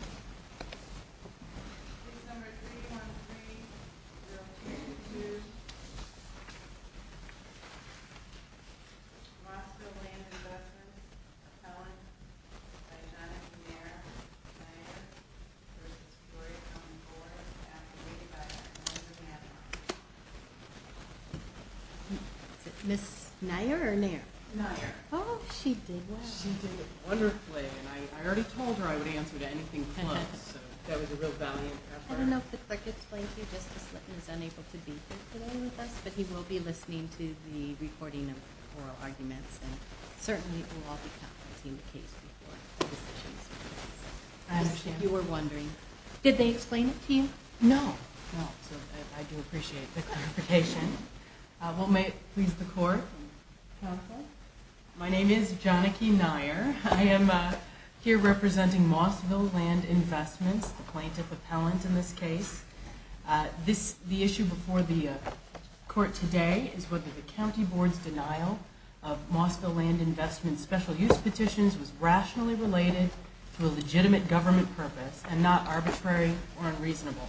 Accommodated by Mr. Neffer. Nair. Oh, she did well. She did wonderfully, and I already told her I would answer to anything that she asked for. I just got a little confused. I'm sorry. I'm sorry. I'm sorry. I don't know if the clerk explained to you that Justice Litton is unable to be here today, but he will be listening to the recording of oral arguments. And certainly we'll all be conferencing in a case before the session starts. If you were wondering. Did they explain it to you? No, no, so I do appreciate the clarification. Well, may it please the Court, counsel. My name is Johnike Nair. I am here representing Mossville Land Investments, the plaintiff appellant in this case. The issue before the Court today is whether the County Board's denial of Mossville Land Investments special use petitions was rationally related to a legitimate government purpose and not arbitrary or unreasonable.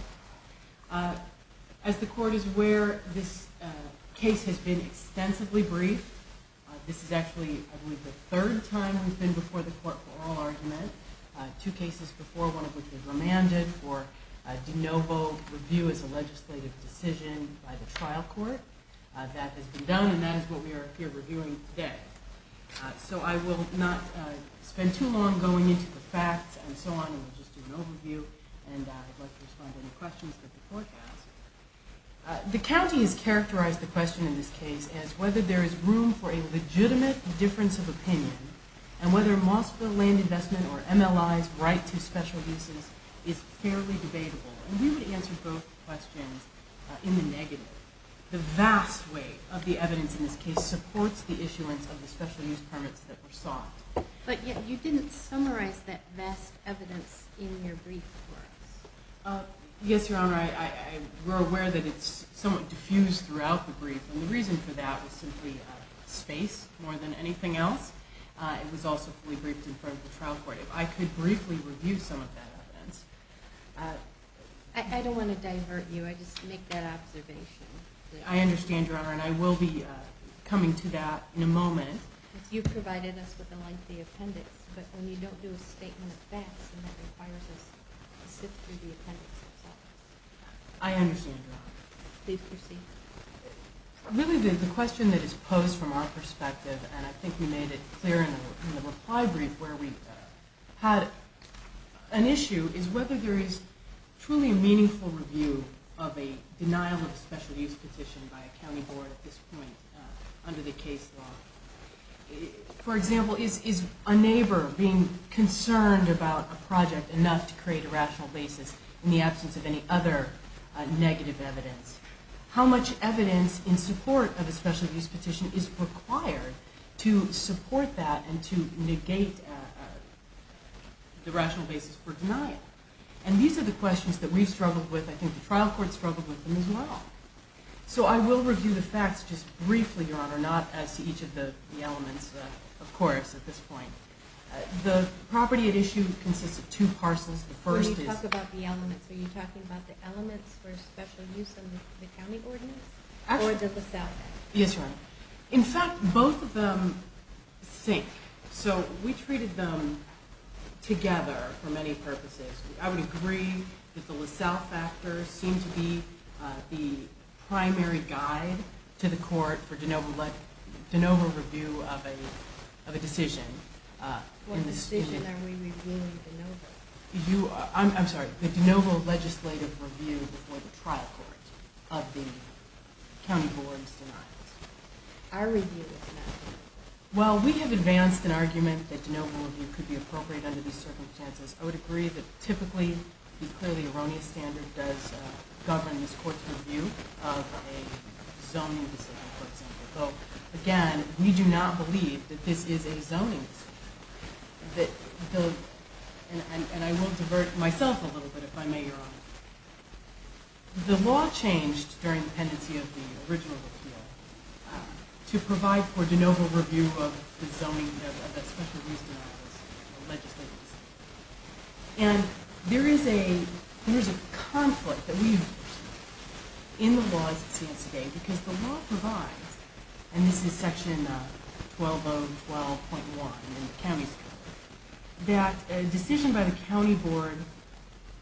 As the Court is aware, this case has been extensively briefed. This is actually, I believe, the third time we've been before the Court for oral argument. Two cases before, one of which was remanded for de novo review as a legislative decision by the trial court. That has been done, and that is what we are here reviewing today. So I will not spend too long going into the facts and so on. We'll just do an overview, and I'd like to respond to any questions that the Court has. The County has characterized the question in this case as whether there is room for a legitimate difference of opinion and whether Mossville Land Investment or MLI's right to special uses is fairly debatable. And we would answer both questions in the negative. The vast weight of the evidence in this case supports the issuance of the special use permits that were sought. But yet you didn't summarize that vast evidence in your brief for us. Yes, Your Honor. We're aware that it's somewhat diffused throughout the brief, and the reason for that was simply space more than anything else. It was also fully briefed in front of the trial court. If I could briefly review some of that evidence. I don't want to divert you. I just make that observation. I understand, Your Honor, and I will be coming to that in a moment. You provided us with a lengthy appendix, but when you don't do a statement of facts, then that requires us to sit through the appendix itself. I understand, Your Honor. Please proceed. Really, the question that is posed from our perspective, and I think we made it clear in the reply brief where we had an issue, is whether there is truly a meaningful review of a denial of a special use petition by a county board at this point under the case law. For example, is a neighbor being concerned about a project enough to create a rational basis in the absence of any other negative evidence? How much evidence in support of a special use petition is required to support that and to negate the rational basis for denial? And these are the questions that we've struggled with. I think the trial court struggled with them as well. So I will review the facts just briefly, Your Honor, not as to each of the elements, of course, at this point. The property at issue consists of two parcels. When you talk about the elements, are you talking about the elements for special use in the county ordinance or the LaSalle? Yes, Your Honor. In fact, both of them sink. So we treated them together for many purposes. I would agree that the LaSalle factors seem to be the primary guide to the court for de novo review of a decision. What decision are we reviewing de novo? I'm sorry, the de novo legislative review before the trial court of the county board's denials. Our review is not. Well, we have advanced an argument that de novo review could be appropriate under these circumstances. I would agree that typically the clearly erroneous standard does govern this court's review of a zoning decision, for example. Again, we do not believe that this is a zoning decision. And I will divert myself a little bit, if I may, Your Honor. The law changed during the pendency of the original appeal to provide for de novo review of the zoning of the special use denials legislative decision. And there is a conflict in the law as it stands today because the law provides, and this is section 12012.1 in the county's code, that a decision by the county board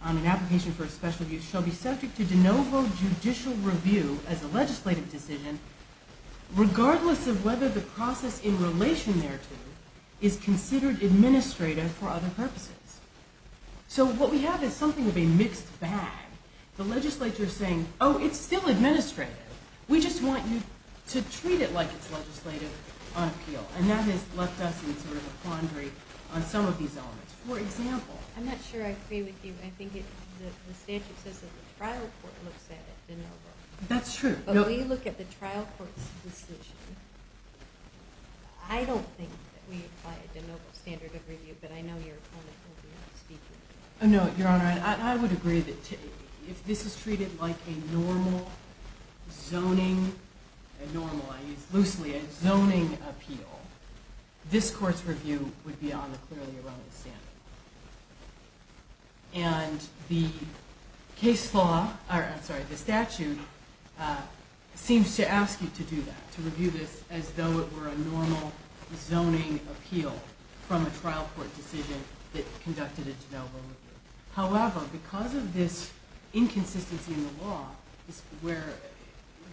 on an application for a special use shall be subject to de novo judicial review as a legislative decision, regardless of whether the process in relation thereto is considered administrative for other purposes. So what we have is something of a mixed bag. The legislature is saying, oh, it's still administrative. We just want you to treat it like it's legislative on appeal. And that has left us in sort of a quandary on some of these elements. For example. I'm not sure I agree with you. I think the statute says that the trial court looks at it, de novo. That's true. But when you look at the trial court's decision, I don't think that we apply a de novo standard of review. But I know your opponent will be speaking. No, Your Honor. I would agree that if this is treated like a normal zoning, loosely a zoning appeal, this court's review would be on the clearly erroneous standard. And the statute seems to ask you to do that, to review this as though it were a normal zoning appeal from a trial court decision that conducted a de novo review. However, because of this inconsistency in the law where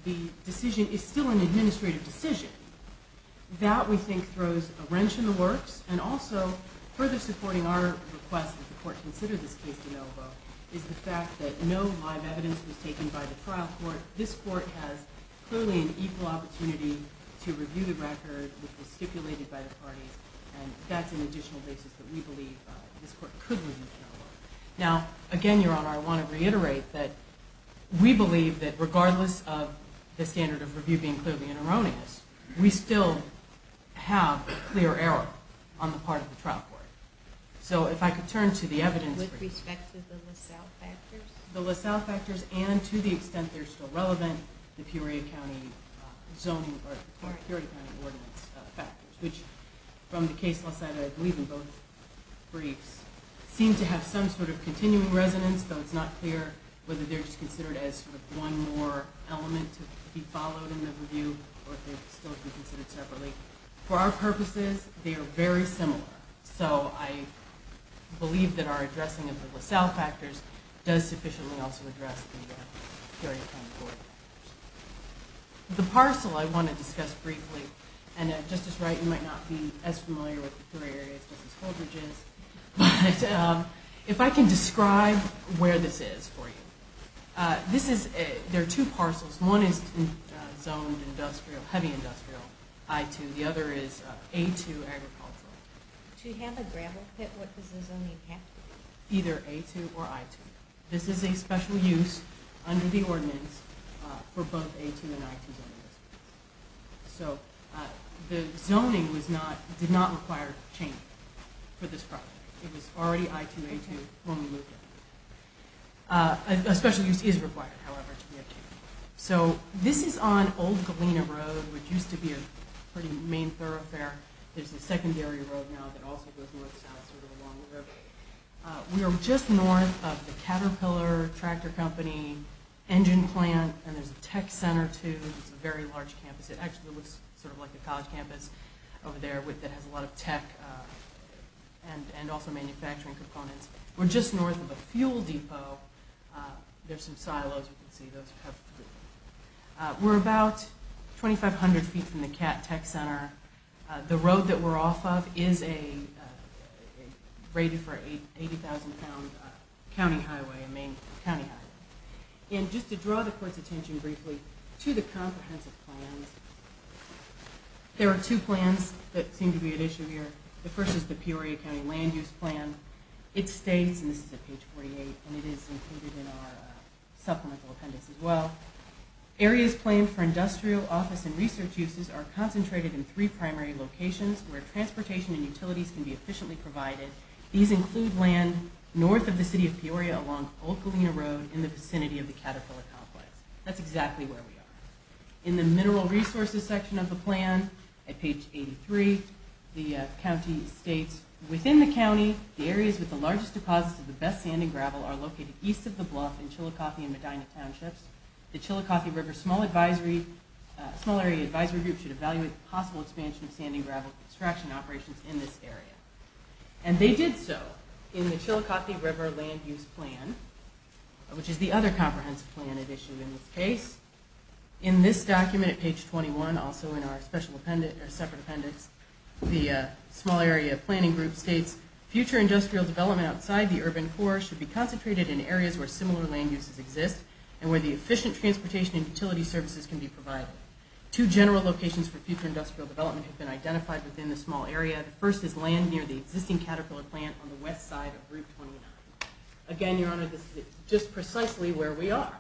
the decision is still an administrative decision, that we think throws a wrench in the works. And also, further supporting our request that the court consider this case de novo is the fact that no live evidence was taken by the trial court. This court has clearly an equal opportunity to review the record which was stipulated by the parties. And that's an additional basis that we believe this court could review de novo. Now, again, Your Honor, I want to reiterate that we believe that regardless of the standard of review being clearly erroneous, we still have a clear error on the part of the trial court. So if I could turn to the evidence brief. With respect to the LaSalle factors? The LaSalle factors and to the extent they're still relevant, the Peoria County zoning or Peoria County ordinance factors, which from the case law side, I believe in both briefs, seem to have some sort of continuing resonance, though it's not clear whether they're just considered as one more element to be followed in the review or if they're still to be considered separately. For our purposes, they are very similar. So I believe that our addressing of the LaSalle factors does sufficiently also address the Peoria County ordinance. The parcel I want to discuss briefly, and Justice Wright, you might not be as familiar with the three areas, just as Holdridge is, but if I can describe where this is for you. There are two parcels. One is zoned industrial, heavy industrial, I-2. The other is A-2 agricultural. Do you have a gravel pit? What does the zoning have to be? Either A-2 or I-2. This is a special use under the ordinance for both A-2 and I-2 zonings. So the zoning did not require change for this project. It was already I-2, A-2 when we moved in. A special use is required, however, to be obtained. So this is on Old Galena Road, which used to be a pretty main thoroughfare. There's a secondary road now that also goes north-south, sort of along the river. We are just north of the Caterpillar Tractor Company engine plant, and there's a tech center, too. It's a very large campus. It actually looks sort of like a college campus over there that has a lot of tech and also manufacturing components. We're just north of a fuel depot. There's some silos you can see. We're about 2,500 feet from the tech center. The road that we're off of is rated for an 80,000-pound county highway, a main county highway. And just to draw the court's attention briefly to the comprehensive plans, there are two plans that seem to be at issue here. The first is the Peoria County Land Use Plan. It states, and this is at page 48, and it is included in our supplemental appendix as well, areas claimed for industrial, office, and research uses are concentrated in three primary locations where transportation and utilities can be efficiently provided. These include land north of the city of Peoria along Old Galena Road in the vicinity of the Caterpillar Complex. That's exactly where we are. In the mineral resources section of the plan, at page 83, the county states, within the county, the areas with the largest deposits of the best sand and gravel are located east of the bluff in Chillicothe and Medina Townships. The Chillicothe River Small Area Advisory Group should evaluate the possible expansion of sand and gravel extraction operations in this area. And they did so in the Chillicothe River Land Use Plan, which is the other comprehensive plan at issue in this case. In this document at page 21, also in our separate appendix, the Small Area Planning Group states, future industrial development outside the urban core should be concentrated in areas where similar land uses exist and where the efficient transportation and utility services can be provided. Two general locations for future industrial development have been identified within the small area. The first is land near the existing Caterpillar Plant on the west side of Route 29. Again, Your Honor, this is just precisely where we are.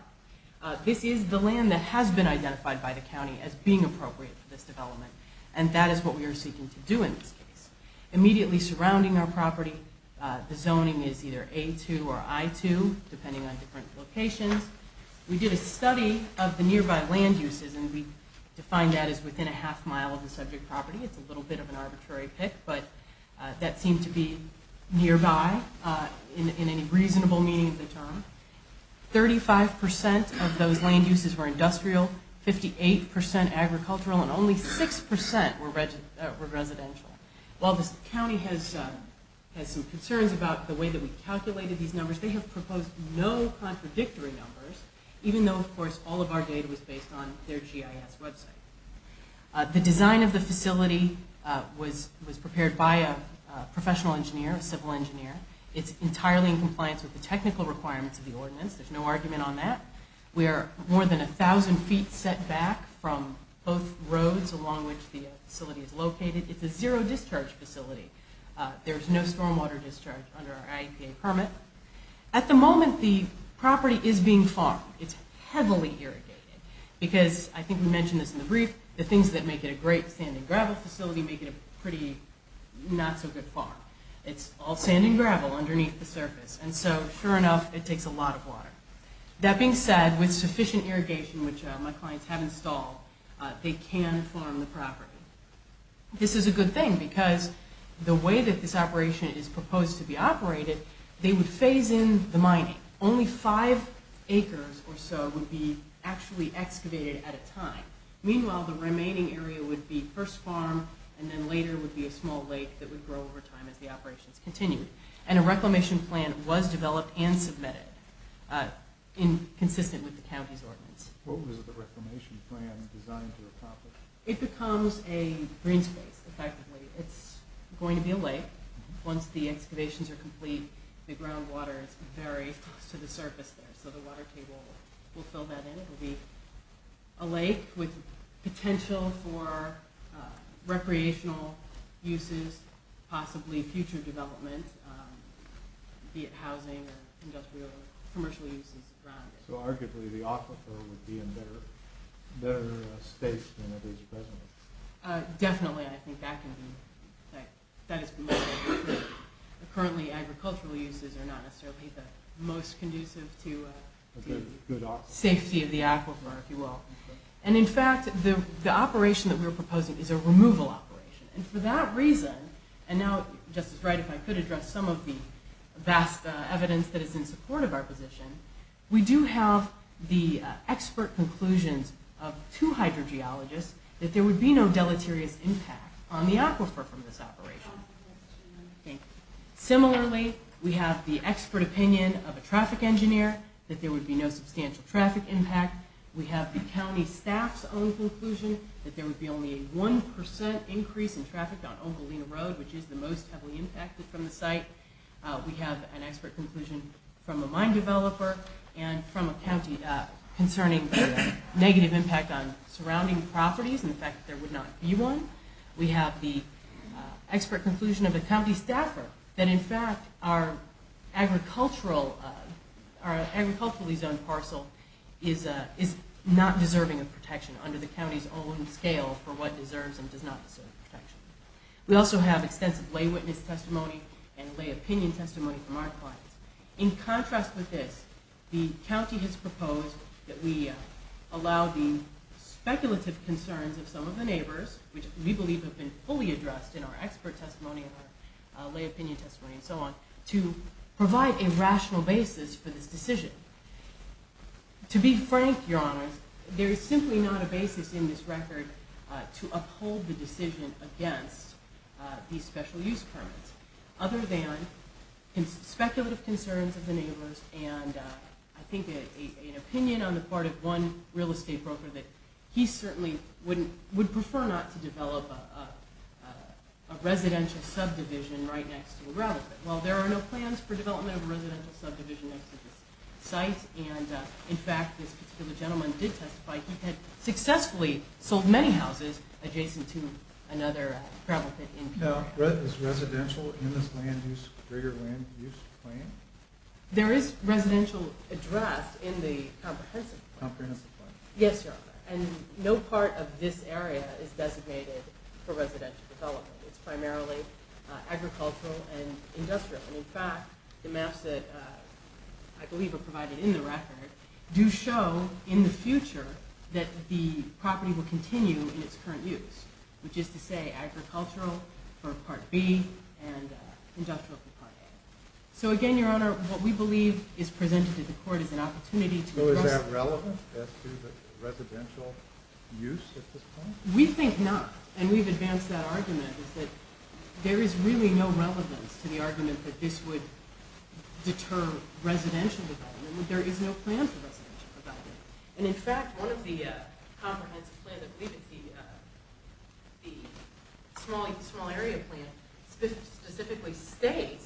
This is the land that has been identified by the county as being appropriate for this development, and that is what we are seeking to do in this case. Immediately surrounding our property, the zoning is either A2 or I2, depending on different locations. We did a study of the nearby land uses, and we defined that as within a half mile of the subject property. It's a little bit of an arbitrary pick, but that seemed to be nearby in any reasonable meaning of the term. 35% of those land uses were industrial, 58% agricultural, and only 6% were residential. While the county has some concerns about the way that we calculated these numbers, they have proposed no contradictory numbers, even though, of course, all of our data was based on their GIS website. The design of the facility was prepared by a professional engineer, a civil engineer. It's entirely in compliance with the technical requirements of the ordinance. There's no argument on that. We are more than 1,000 feet set back from both roads along which the facility is located. It's a zero-discharge facility. There's no stormwater discharge under our IEPA permit. At the moment, the property is being farmed. It's heavily irrigated because, I think we mentioned this in the brief, the things that make it a great sand and gravel facility make it a pretty not-so-good farm. It's all sand and gravel underneath the surface, and so, sure enough, it takes a lot of water. That being said, with sufficient irrigation, which my clients have installed, they can farm the property. This is a good thing because the way that this operation is proposed to be operated, they would phase in the mining. Only five acres or so would be actually excavated at a time. Meanwhile, the remaining area would be first farmed, and then later would be a small lake that would grow over time as the operations continued. And a reclamation plan was developed and submitted consistent with the county's ordinance. What was the reclamation plan designed to accomplish? It becomes a green space, effectively. It's going to be a lake. Once the excavations are complete, the groundwater is very close to the surface there, so the water table will fill that in. It will be a lake with potential for recreational uses, possibly future development, be it housing or industrial or commercial uses around it. Arguably, the aquifer would be in better state than it is presently. Definitely, I think that can be. Currently, agricultural uses are not necessarily the most conducive to the safety of the aquifer, if you will. In fact, the operation that we are proposing is a removal operation. For that reason, and now, Justice Wright, if I could address some of the vast evidence that is in support of our position, we do have the expert conclusions of two hydrogeologists that there would be no deleterious impact on the aquifer from this operation. Similarly, we have the expert opinion of a traffic engineer that there would be no substantial traffic impact. We have the county staff's own conclusion that there would be only a 1% increase in traffic on Ogallena Road, which is the most heavily impacted from the site. We have an expert conclusion from a mine developer and from a county concerning the negative impact on surrounding properties and the fact that there would not be one. We have the expert conclusion of a county staffer that, in fact, our agriculturally zoned parcel is not deserving of protection under the county's own scale for what deserves and does not deserve protection. We also have extensive lay witness testimony and lay opinion testimony from our clients. In contrast with this, the county has proposed that we allow the speculative concerns of some of the neighbors, which we believe have been fully addressed in our expert testimony and our lay opinion testimony and so on, to provide a rational basis for this decision. To be frank, Your Honors, there is simply not a basis in this record to uphold the decision against these special use permits other than speculative concerns of the neighbors and, I think, an opinion on the part of one real estate broker that he certainly would prefer not to develop a residential subdivision right next to a gravel pit. Well, there are no plans for development of a residential subdivision next to this site and, in fact, this particular gentleman did testify he had successfully sold many houses adjacent to another gravel pit. Now, is residential in this greater land use plan? There is residential addressed in the comprehensive plan. Comprehensive plan. Yes, Your Honor, and no part of this area is designated for residential development. It's primarily agricultural and industrial and, in fact, the maps that I believe are provided in the record do show in the future that the property will continue in its current use, which is to say agricultural for Part B and industrial for Part A. So, again, Your Honor, what we believe is presented to the court is an opportunity to address So is that relevant as to the residential use at this point? We think not, and we've advanced that argument is that there is really no relevance to the argument that this would deter residential development. There is no plan for residential development. And, in fact, one of the comprehensive plans, I believe it's the small area plan, specifically states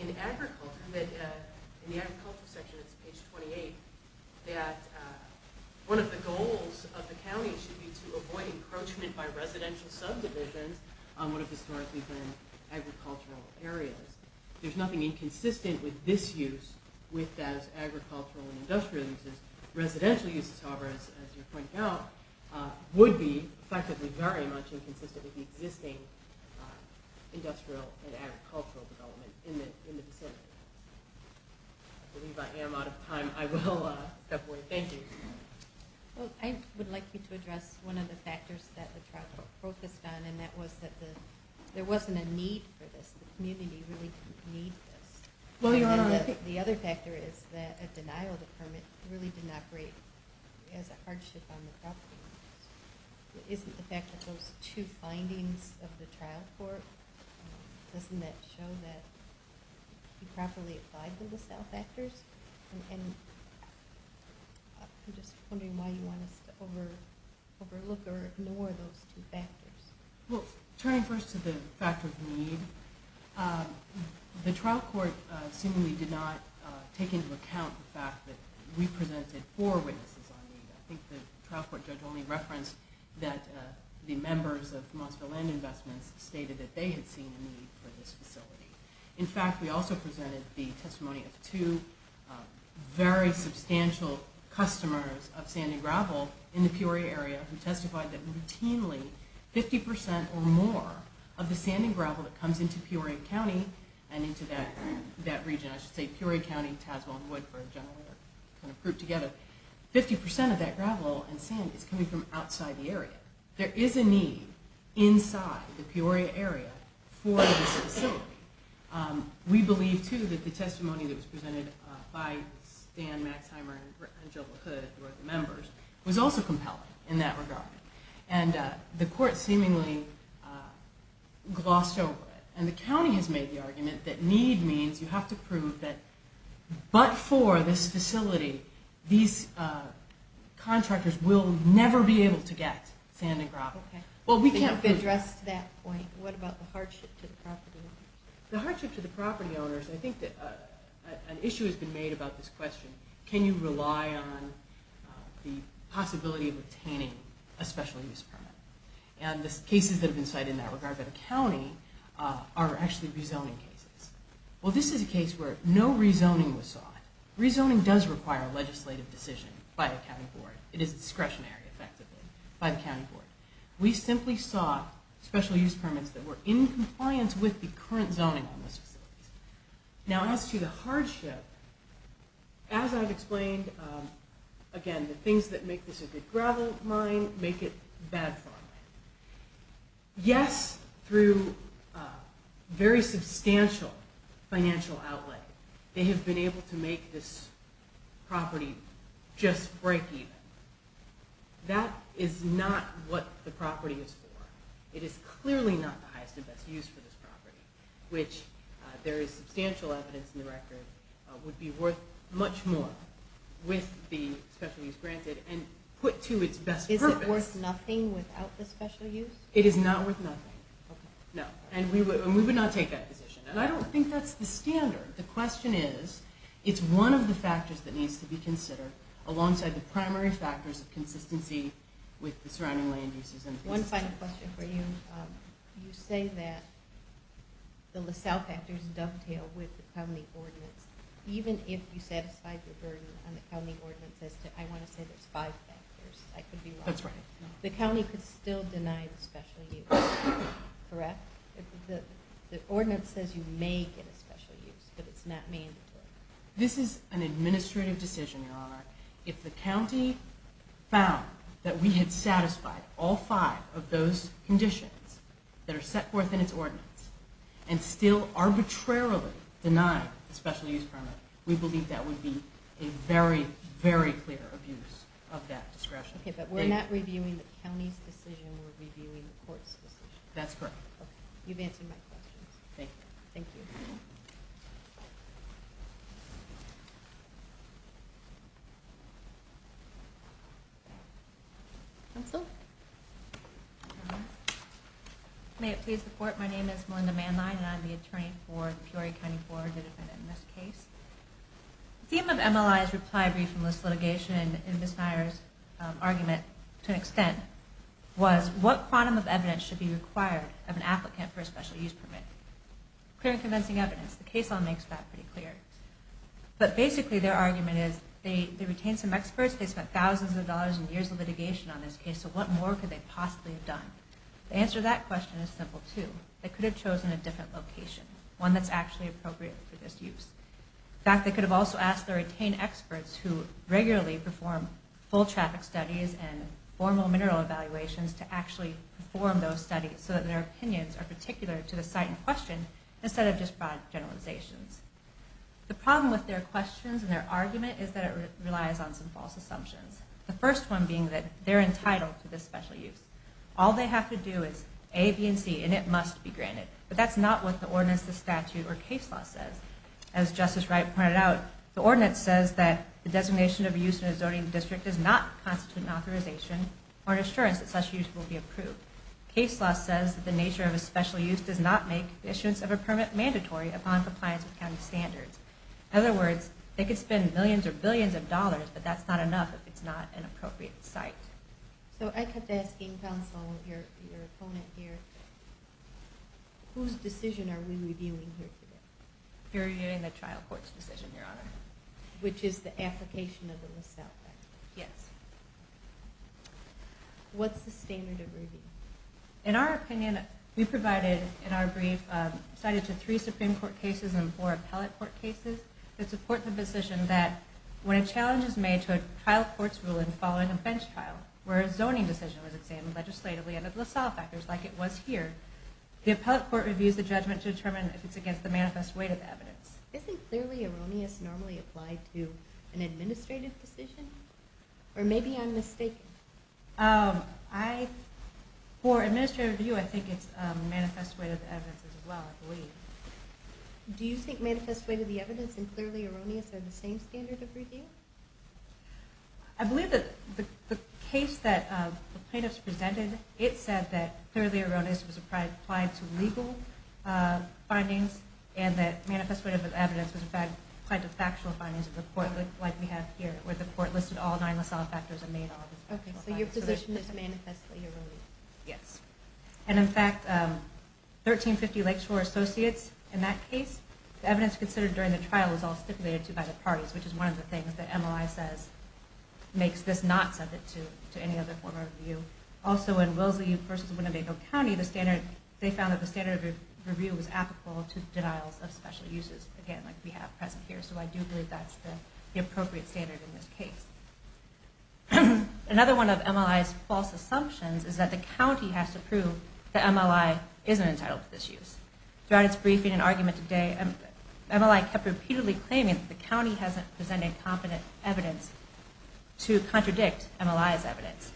in agriculture, in the agriculture section, it's page 28, that one of the goals of the county should be to avoid encroachment by residential subdivisions on one of the historically planned agricultural areas. There's nothing inconsistent with this use with those agricultural and industrial uses. Residential uses, however, as you're pointing out, would be, effectively, very much inconsistent with the existing industrial and agricultural development in the vicinity. I believe I am out of time. I will step away. Thank you. Well, I would like you to address one of the factors that the trial focused on, and that was that there wasn't a need for this. The community really didn't need this. The other factor is that a denial of the permit really didn't operate as a hardship on the property. Isn't the fact that those two findings of the trial court, doesn't that show that you properly applied the LaSalle factors? And I'm just wondering why you want us to overlook or ignore those two factors. Well, turning first to the factor of need, the trial court seemingly did not take into account the fact that we presented four witnesses on need. I think the trial court judge only referenced that the members of Mossville Land Investments stated that they had seen a need for this facility. In fact, we also presented the testimony of two very substantial customers of sanding gravel in the Peoria area who testified that routinely 50% or more of the sanding gravel that comes into Peoria County and into that region, I should say, Peoria County, Tasman, Woodford, kind of grouped together, 50% of that gravel and sand is coming from outside the area. There is a need inside the Peoria area for this facility. We believe, too, that the testimony that was presented by Stan Maxheimer and Jill LaHood, who are the members, was also compelling in that regard. The court seemingly glossed over it, and the county has made the argument that need means you have to prove that but for this facility, these contractors will never be able to get sand and gravel. Okay. To address that point, what about the hardship to the property owners? The hardship to the property owners, I think an issue has been made about this question. Can you rely on the possibility of obtaining a special use permit? And the cases that have been cited in that regard by the county are actually rezoning cases. Well, this is a case where no rezoning was sought. Rezoning does require a legislative decision by the county board. It is discretionary, effectively, by the county board. We simply sought special use permits that were in compliance with the current zoning on this facility. Now, as to the hardship, as I've explained, again, the things that make this a good gravel mine make it bad farmland. Yes, through very substantial financial outlay, they have been able to make this property just break even. That is not what the property is for. It is clearly not the highest and best use for this property, which there is substantial evidence in the record, would be worth much more with the special use granted and put to its best purpose. Is it worth nothing without the special use? It is not worth nothing, no. And we would not take that position. And I don't think that's the standard. The question is, it's one of the factors that needs to be considered alongside the primary factors of consistency with the surrounding land uses. One final question for you. You say that the LaSalle factors dovetail with the county ordinance, even if you satisfied your burden on the county ordinance as to, I want to say there's five factors, I could be wrong. That's right. The county could still deny the special use, correct? The ordinance says you may get a special use, but it's not mandatory. This is an administrative decision, Your Honor. If the county found that we had satisfied all five of those conditions that are set forth in its ordinance and still arbitrarily denied the special use permit, we believe that would be a very, very clear abuse of that discretion. Okay, but we're not reviewing the county's decision. We're reviewing the court's decision. That's correct. Okay. You've answered my questions. Thank you. Thank you. Counsel? May it please the court, my name is Melinda Manline, and I'm the attorney for the Peoria County Court that defended this case. The theme of MLI's reply brief and list litigation in Ms. Meyer's argument, to an extent, was what quantum of evidence should be required of an applicant for a special use permit? Clear and convincing evidence. The case law makes that pretty clear. But basically their argument is they retained some experts, they spent thousands of dollars and years of litigation on this case, so what more could they possibly have done? The answer to that question is simple, too. They could have chosen a different location, one that's actually appropriate for this use. In fact, they could have also asked their retained experts who regularly perform full traffic studies and formal mineral evaluations to actually perform those studies so that their opinions are particular to the site in question instead of just broad generalizations. The problem with their questions and their argument is that it relies on some false assumptions. The first one being that they're entitled to this special use. All they have to do is A, B, and C, and it must be granted. But that's not what the ordinance, the statute, or case law says. As Justice Wright pointed out, the ordinance says that the designation of a use in a zoning district does not constitute an authorization or an assurance that such use will be approved. Case law says that the nature of a special use does not make the issuance of a permit mandatory upon compliance with county standards. In other words, they could spend millions or billions of dollars, but that's not enough if it's not an appropriate site. So I kept asking counsel, your opponent here, whose decision are we reviewing here today? We're reviewing the trial court's decision, Your Honor. Which is the application of the list out act. Yes. What's the standard of review? In our opinion, we provided, in our brief, cited to three Supreme Court cases and four appellate court cases that support the position that when a challenge is made to a trial court's ruling following a bench trial, where a zoning decision was examined legislatively under the list out act, just like it was here, the appellate court reviews the judgment to determine if it's against the manifest weight of evidence. Isn't clearly erroneous normally applied to an administrative decision? Or maybe I'm mistaken. For administrative review, I think it's manifest weight of evidence as well, I believe. Do you think manifest weight of the evidence and clearly erroneous are the same standard of review? I believe that the case that the plaintiffs presented, it said that clearly erroneous was applied to legal findings and that manifest weight of evidence was applied to factual findings of the court, like we have here, where the court listed all nine LaSalle factors and made all the factual findings. Okay, so your position is manifestly erroneous. Yes. And in fact, 1350 Lakeshore Associates, in that case, the evidence considered during the trial was all stipulated to by the parties, which is one of the things that MLI says makes this not subject to any other form of review. Also, in Wellesley versus Winnebago County, they found that the standard of review was applicable to denials of special uses, again, like we have present here. So I do believe that's the appropriate standard in this case. Another one of MLI's false assumptions is that the county has to prove that MLI isn't entitled to this use. Throughout its briefing and argument today, MLI kept repeatedly claiming that the county hasn't presented competent evidence to contradict MLI's evidence.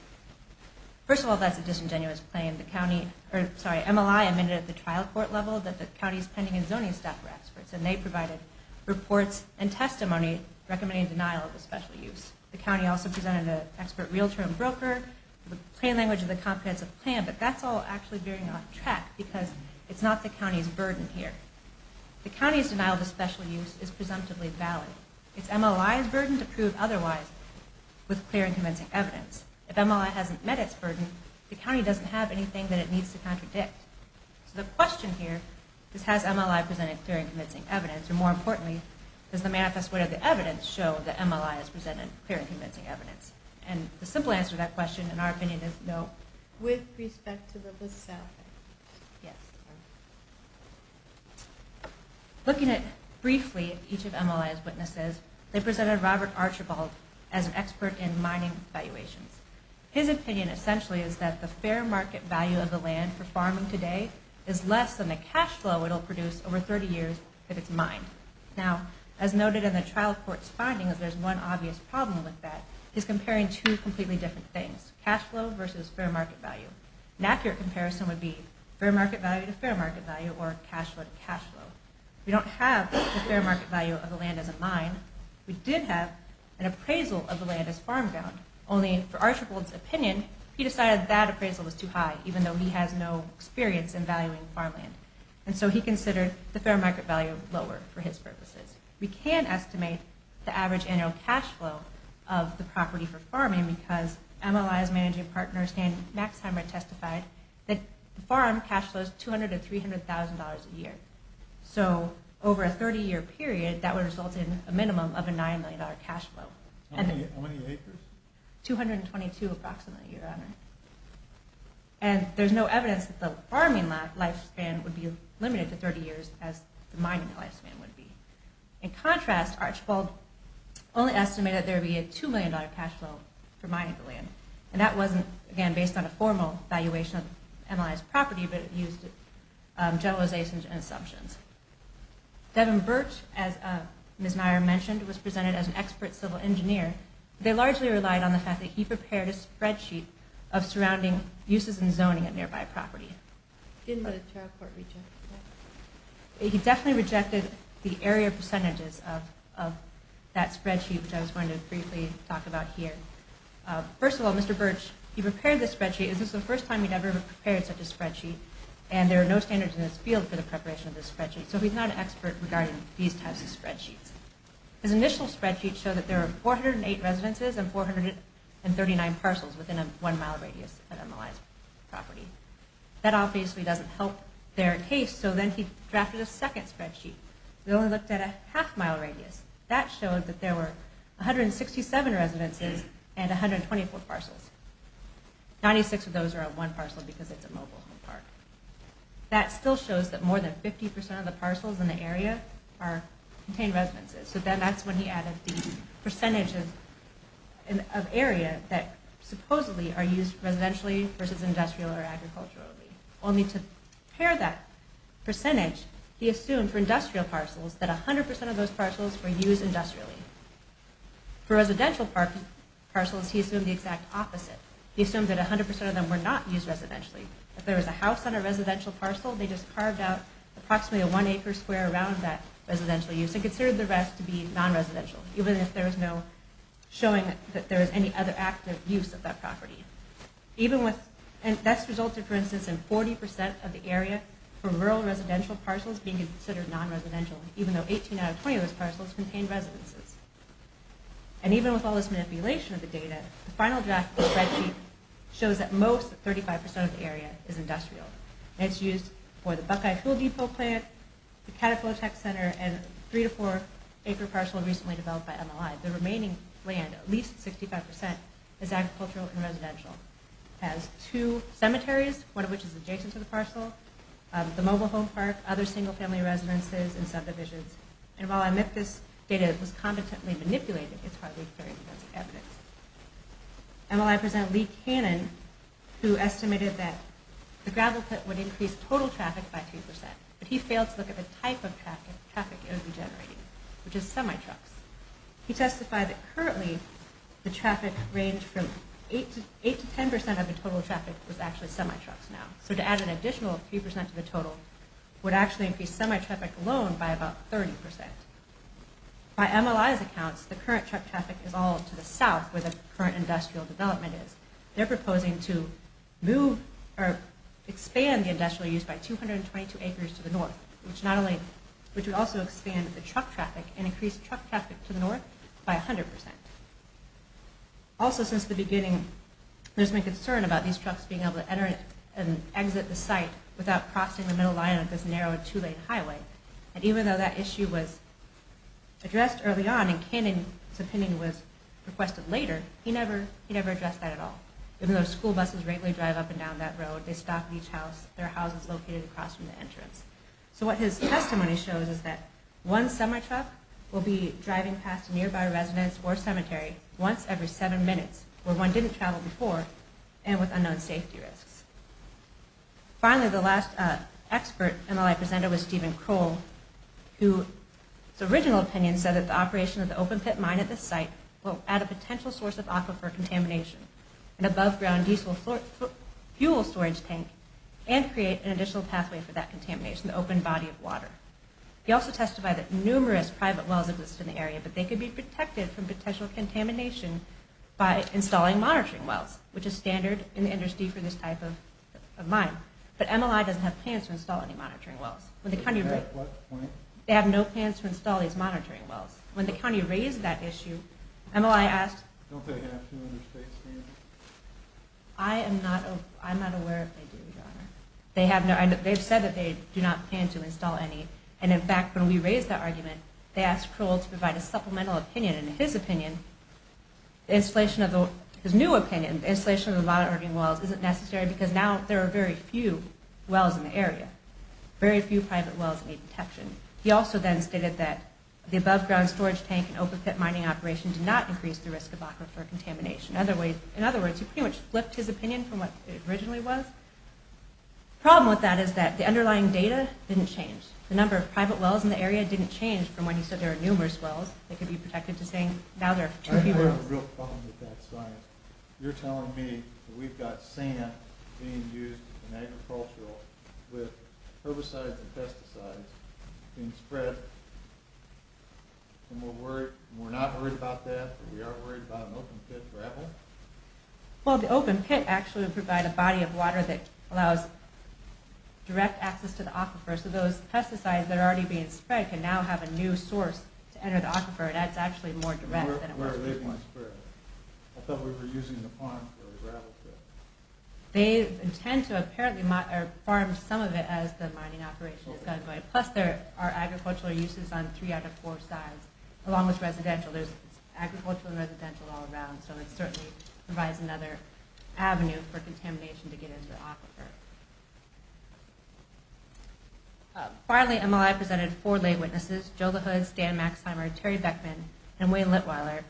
First of all, that's a disingenuous claim. The county, or sorry, MLI admitted at the trial court level that the county's pending and zoning staff were experts and they provided reports and testimony recommending denial of a special use. The county also presented an expert real-term broker with the plain language of the comprehensive plan, but that's all actually veering off track because it's not the county's burden here. The county's denial of a special use is presumptively valid. It's MLI's burden to prove otherwise with clear and convincing evidence. If MLI hasn't met its burden, the county doesn't have anything that it needs to contradict. So the question here is, has MLI presented clear and convincing evidence, or more importantly, does the manifest way of the evidence show that MLI has presented clear and convincing evidence? And the simple answer to that question, in our opinion, is no. With respect to the list staff, I think. Yes. Looking at, briefly, each of MLI's witnesses, they presented Robert Archibald as an expert in mining valuations. His opinion, essentially, is that the fair market value of the land for farming today is less than the cash flow it will produce over 30 years if it's mined. Now, as noted in the trial court's findings, there's one obvious problem with that. He's comparing two completely different things, cash flow versus fair market value. An accurate comparison would be fair market value to fair market value or cash flow to cash flow. We don't have the fair market value of the land as a mine. We did have an appraisal of the land as farm-bound, only for Archibald's opinion, he decided that appraisal was too high, even though he has no experience in valuing farmland. And so he considered the fair market value lower for his purposes. We can estimate the average annual cash flow of the property for farming because MLI's managing partner, Stan Maxheimer, testified that the farm cash flow is $200,000 to $300,000 a year. So over a 30-year period, that would result in a minimum of a $9 million cash flow. How many acres? 222 approximately, Your Honor. And there's no evidence that the farming lifespan would be limited to 30 years as the mining lifespan would be. In contrast, Archibald only estimated that there would be a $2 million cash flow for mining the land. And that wasn't, again, based on a formal evaluation of MLI's property, but it used generalizations and assumptions. Devin Birch, as Ms. Neier mentioned, was presented as an expert civil engineer. They largely relied on the fact that he prepared a spreadsheet of surrounding uses and zoning of nearby property. Didn't the trial court reject that? He definitely rejected the area percentages of that spreadsheet, which I was going to briefly talk about here. First of all, Mr. Birch, he prepared this spreadsheet. This is the first time he'd ever prepared such a spreadsheet, and there are no standards in this field for the preparation of this spreadsheet. So he's not an expert regarding these types of spreadsheets. His initial spreadsheet showed that there were 408 residences and 439 parcels within a one-mile radius of MLI's property. That obviously doesn't help their case, so then he drafted a second spreadsheet. He only looked at a half-mile radius. That showed that there were 167 residences and 124 parcels. Ninety-six of those are of one parcel because it's a mobile home park. That still shows that more than 50% of the parcels in the area contain residences. So then that's when he added the percentages of area that supposedly are used residentially versus industrial or agriculturally. Only to pair that percentage, he assumed for industrial parcels that 100% of those parcels were used industrially. For residential parcels, he assumed the exact opposite. He assumed that 100% of them were not used residentially. If there was a house on a residential parcel, they just carved out approximately a one-acre square around that residential use and considered the rest to be non-residential, even if there was no showing that there was any other active use of that property. That's resulted, for instance, in 40% of the area for rural residential parcels being considered non-residential, even though 18 out of 20 of those parcels contained residences. And even with all this manipulation of the data, the final draft of the spreadsheet shows that most, 35% of the area, is industrial. And it's used for the Buckeye Fuel Depot plant, the Cataflow Tech Center, and three to four-acre parcel recently developed by MLI. The remaining land, at least 65%, is agricultural and residential. It has two cemeteries, one of which is adjacent to the parcel, the mobile home park, other single-family residences, and subdivisions. And while I admit that this data was competently manipulated, it's hardly very convincing evidence. And while I present Lee Cannon, who estimated that the gravel pit would increase total traffic by 3%, but he failed to look at the type of traffic it would be generating, which is semi-trucks. He testified that currently, the traffic range from 8% to 10% of the total traffic was actually semi-trucks now. So to add an additional 3% to the total would actually increase semi-traffic alone by about 30%. By MLI's accounts, the current truck traffic is all to the south, where the current industrial development is. They're proposing to expand the industrial use by 222 acres to the north, which would also expand the truck traffic and increase truck traffic to the north by 100%. Also, since the beginning, without crossing the middle line of this narrow and two-lane highway. And even though that issue was addressed early on and Cannon's opinion was requested later, he never addressed that at all. Even though school buses regularly drive up and down that road, they stop at each house, there are houses located across from the entrance. So what his testimony shows is that one semi-truck will be driving past a nearby residence or cemetery once every seven minutes, where one didn't travel before and with unknown safety risks. Finally, the last expert MLI presented was Stephen Kroll, whose original opinion said that the operation of the open pit mine at this site will add a potential source of aquifer contamination, an above-ground diesel fuel storage tank, and create an additional pathway for that contamination, the open body of water. He also testified that numerous private wells exist in the area, but they could be protected from potential contamination by installing monitoring wells, which is standard in the industry for this type of mine. But MLI doesn't have plans to install any monitoring wells. They have no plans to install these monitoring wells. When the county raised that issue, MLI asked... Don't they have to in this case? I am not aware if they do, Your Honor. They have said that they do not plan to install any. And in fact, when we raised that argument, they asked Kroll to provide a supplemental opinion. And in his opinion, his new opinion, the installation of the monitoring wells isn't necessary because now there are very few wells in the area, very few private wells that need protection. He also then stated that the above-ground storage tank and open pit mining operation did not increase the risk of aquifer contamination. In other words, he pretty much flipped his opinion from what it originally was. The problem with that is that the underlying data didn't change. The number of private wells in the area didn't change from when he said there were numerous wells that could be protected to saying now there are too few wells. I have a real problem with that, science. You're telling me that we've got sand being used in agriculture with herbicides and pesticides being spread, and we're not worried about that? We aren't worried about an open pit gravel? Well, the open pit actually would provide a body of water that allows direct access to the aquifer, so those pesticides that are already being spread can now have a new source to enter the aquifer, and that's actually more direct than it was before. Where are they being spread? I thought we were using the pond for the gravel. They intend to apparently farm some of it as the mining operation is going. Plus there are agricultural uses on three out of four sides, along with residential. There's agricultural and residential all around, so it certainly provides another avenue for contamination to get into the aquifer. Finally, MLI presented four lay witnesses, Joe LaHood, Stan Maxheimer, Terry Beckman, and Wayne Littweiler,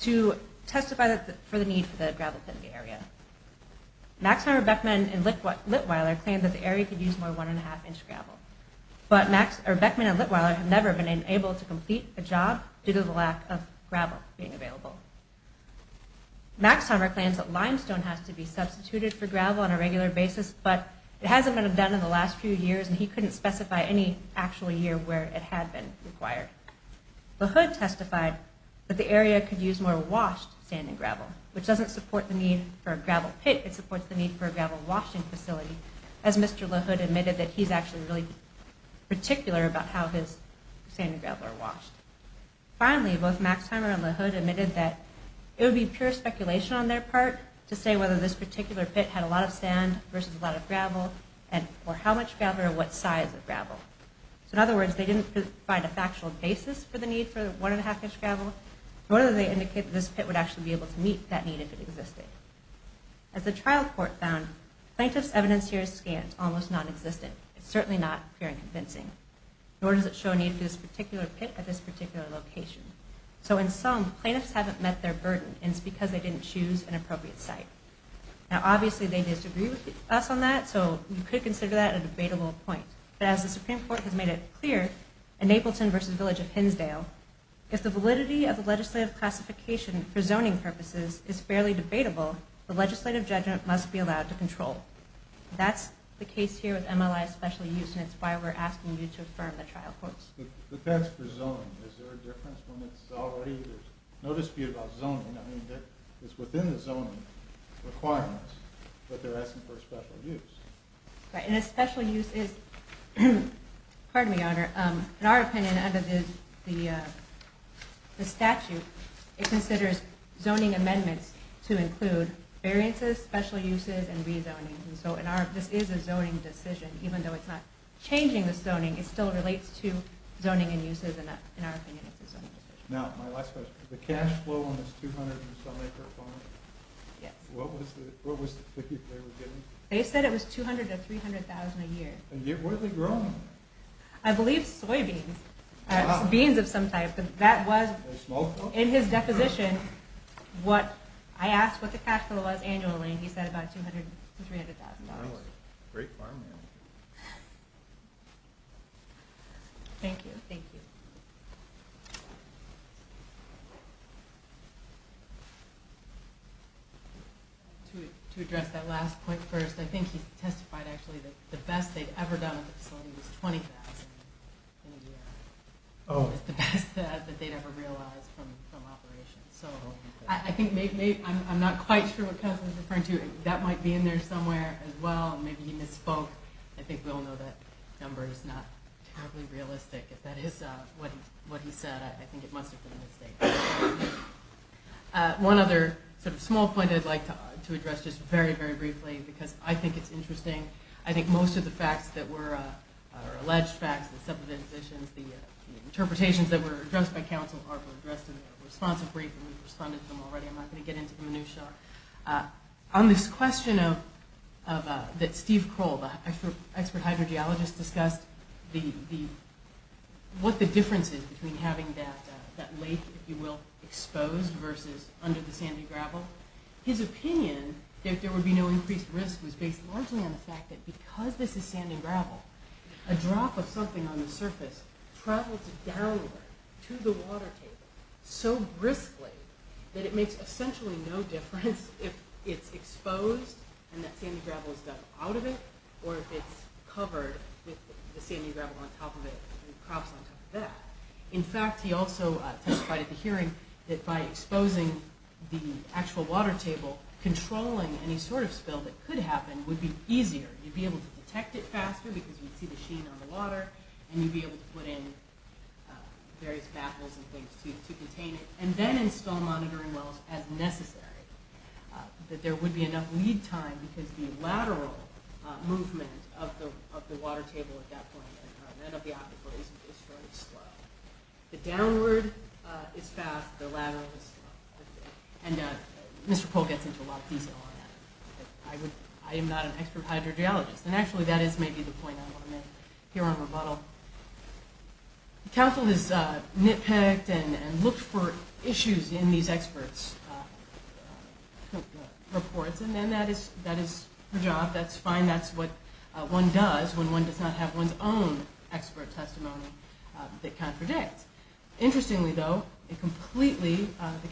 to testify for the need for the gravel pit in the area. Maxheimer, Beckman, and Littweiler claimed that the area could use more one-and-a-half-inch gravel, but Beckman and Littweiler have never been able to complete a job due to the lack of gravel being available. Maxheimer claims that limestone has to be substituted for gravel on a regular basis, but it hasn't been done in the last few years, and he couldn't specify any actual year where it had been required. LaHood testified that the area could use more washed sand and gravel, which doesn't support the need for a gravel pit, it supports the need for a gravel washing facility, as Mr. LaHood admitted that he's actually really particular about how his sand and gravel are washed. Finally, both Maxheimer and LaHood admitted that it would be pure speculation on their part to say whether this particular pit had a lot of sand versus a lot of gravel, or how much gravel or what size of gravel. So in other words, they didn't find a factual basis for the need for one-and-a-half-inch gravel, nor did they indicate that this pit would actually be able to meet that need if it existed. As the trial court found, plaintiff's evidence here is scant, almost non-existent. It's certainly not clear and convincing. Nor does it show a need for this particular pit at this particular location. So in sum, plaintiffs haven't met their burden, and it's because they didn't choose an appropriate site. Now obviously they disagree with us on that, so you could consider that a debatable point. But as the Supreme Court has made it clear in Napleton v. Village of Hinsdale, if the validity of the legislative classification for zoning purposes is fairly debatable, the legislative judgment must be allowed to control. That's the case here with MLI's special use, and it's why we're asking you to affirm the trial court's. But that's for zoning. Is there a difference when it's already there's no dispute about zoning? I mean, it's within the zoning requirements, but they're asking for a special use. Right, and a special use is, pardon me, Your Honor, in our opinion under the statute, it considers zoning amendments to include variances, special uses, and rezoning. So this is a zoning decision. Even though it's not changing the zoning, it still relates to zoning and uses, and in our opinion it's a zoning decision. Now, my last question. The cash flow on this 200-and-some-acre farm? Yes. What was the figure they were getting? They said it was $200,000 to $300,000 a year. A year? What are they growing? I believe soybeans. Beans of some type. In his deposition, I asked what the cash flow was annually, and he said about $200,000 to $300,000. Great farm, man. Thank you. Thank you. To address that last point first, I think he testified actually that the best they'd ever done with the facility was $20,000 in a year. Oh. It's the best that they'd ever realized from operations. So I think maybe, I'm not quite sure what Councilman's referring to. That might be in there somewhere as well. Maybe he misspoke. I think we all know that number is not terribly realistic. If that is what he said, I think it must have been a mistake. One other sort of small point I'd like to address just very, very briefly, because I think it's interesting. I think most of the facts that were, or alleged facts, the subdivisions, the interpretations that were addressed by Council are addressed in a responsive brief, and we've responded to them already. I'm not going to get into the minutia. On this question that Steve Kroll, the expert hydrogeologist, discussed, what the difference is between having that lake, if you will, exposed, versus under the sandy gravel. Well, his opinion that there would be no increased risk was based largely on the fact that because this is sandy gravel, a drop of something on the surface travels downward to the water table so briskly that it makes essentially no difference if it's exposed and that sandy gravel is dug out of it, or if it's covered with the sandy gravel on top of it, and crops on top of that. In fact, he also testified at the hearing that by exposing the actual water table, controlling any sort of spill that could happen would be easier. You'd be able to detect it faster because you'd see the sheen on the water, and you'd be able to put in various baffles and things to contain it, and then install monitoring wells as necessary. That there would be enough lead time because the lateral movement of the water table at that point, and of the aquifer, is sort of slow. The downward is fast, the lateral is slow. And Mr. Polk gets into a lot of detail on that. I am not an expert hydrogeologist. And actually, that is maybe the point I want to make here on rebuttal. The council has nitpicked and looked for issues in these experts' reports, and then that is their job. That's fine. That's what one does when one does not have one's own expert testimony that contradicts. Interestingly, though, the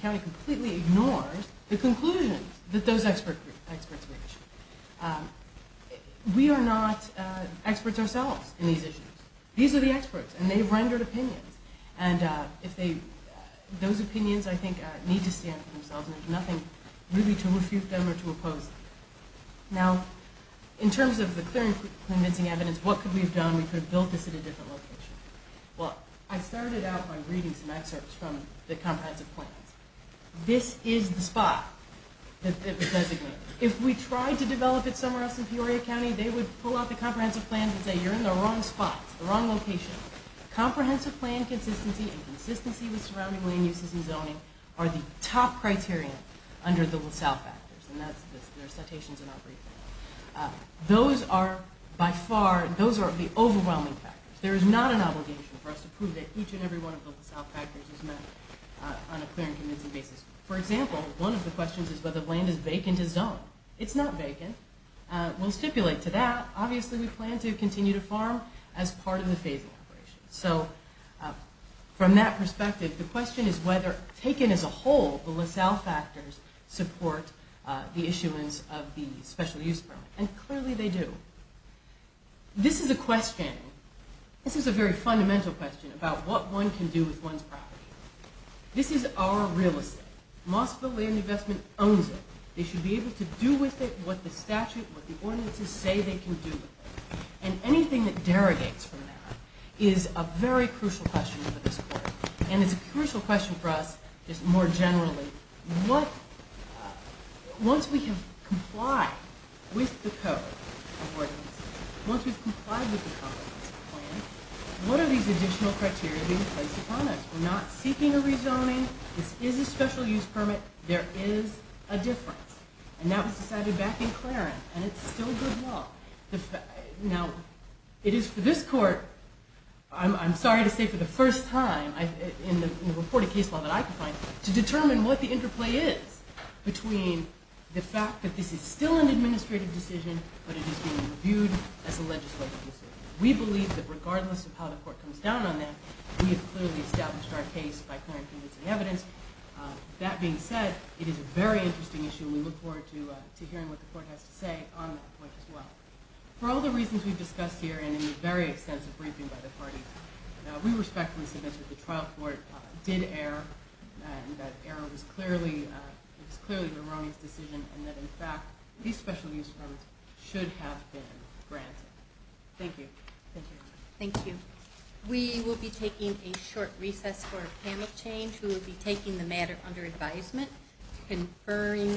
county completely ignores the conclusions that those experts make. We are not experts ourselves in these issues. These are the experts, and they've rendered opinions. And those opinions, I think, need to stand for themselves, and there's nothing really to refute them or to oppose them. Now, in terms of the clear and convincing evidence, what could we have done? We could have built this at a different location. Well, I started out by reading some excerpts from the comprehensive plans. This is the spot that it was designated. If we tried to develop it somewhere else in Peoria County, they would pull out the comprehensive plan and say, you're in the wrong spot. It's the wrong location. Comprehensive plan consistency and consistency with surrounding land uses and zoning are the top criteria under the LaSalle factors, and there are citations in our briefing. Those are, by far, those are the overwhelming factors. There is not an obligation for us to prove that each and every one of the LaSalle factors is met on a clear and convincing basis. For example, one of the questions is whether land is vacant to zone. It's not vacant. We'll stipulate to that. Obviously, we plan to continue to farm as part of the phasing operation. So from that perspective, the question is whether, taken as a whole, the LaSalle factors support the issuance of the special use permit, and clearly they do. This is a question. This is a very fundamental question about what one can do with one's property. This is our real estate. Most of the land investment owns it. They should be able to do with it what the statute, what the ordinances say they can do with it, and anything that derogates from that is a very crucial question for this court, and it's a crucial question for us just more generally. Once we have complied with the code of ordinances, once we've complied with the comprehensive plan, what are these additional criteria being placed upon us? We're not seeking a rezoning. This is a special use permit. There is a difference, and that was decided back in Claren, and it's still good law. Now, it is for this court, I'm sorry to say for the first time, in the reported case law that I can find, to determine what the interplay is between the fact that this is still an administrative decision, but it is being reviewed as a legislative decision. We believe that regardless of how the court comes down on that, we have clearly established our case by clarifying the evidence. That being said, it is a very interesting issue, and we look forward to hearing what the court has to say on that point as well. For all the reasons we've discussed here and in the very extensive briefing by the parties, we respectfully submit that the trial court did err, and that error was clearly Veroni's decision, and that in fact these special use permits should have been granted. Thank you. Thank you. Thank you. We will be taking a short recess for a panel change. conferring with the court.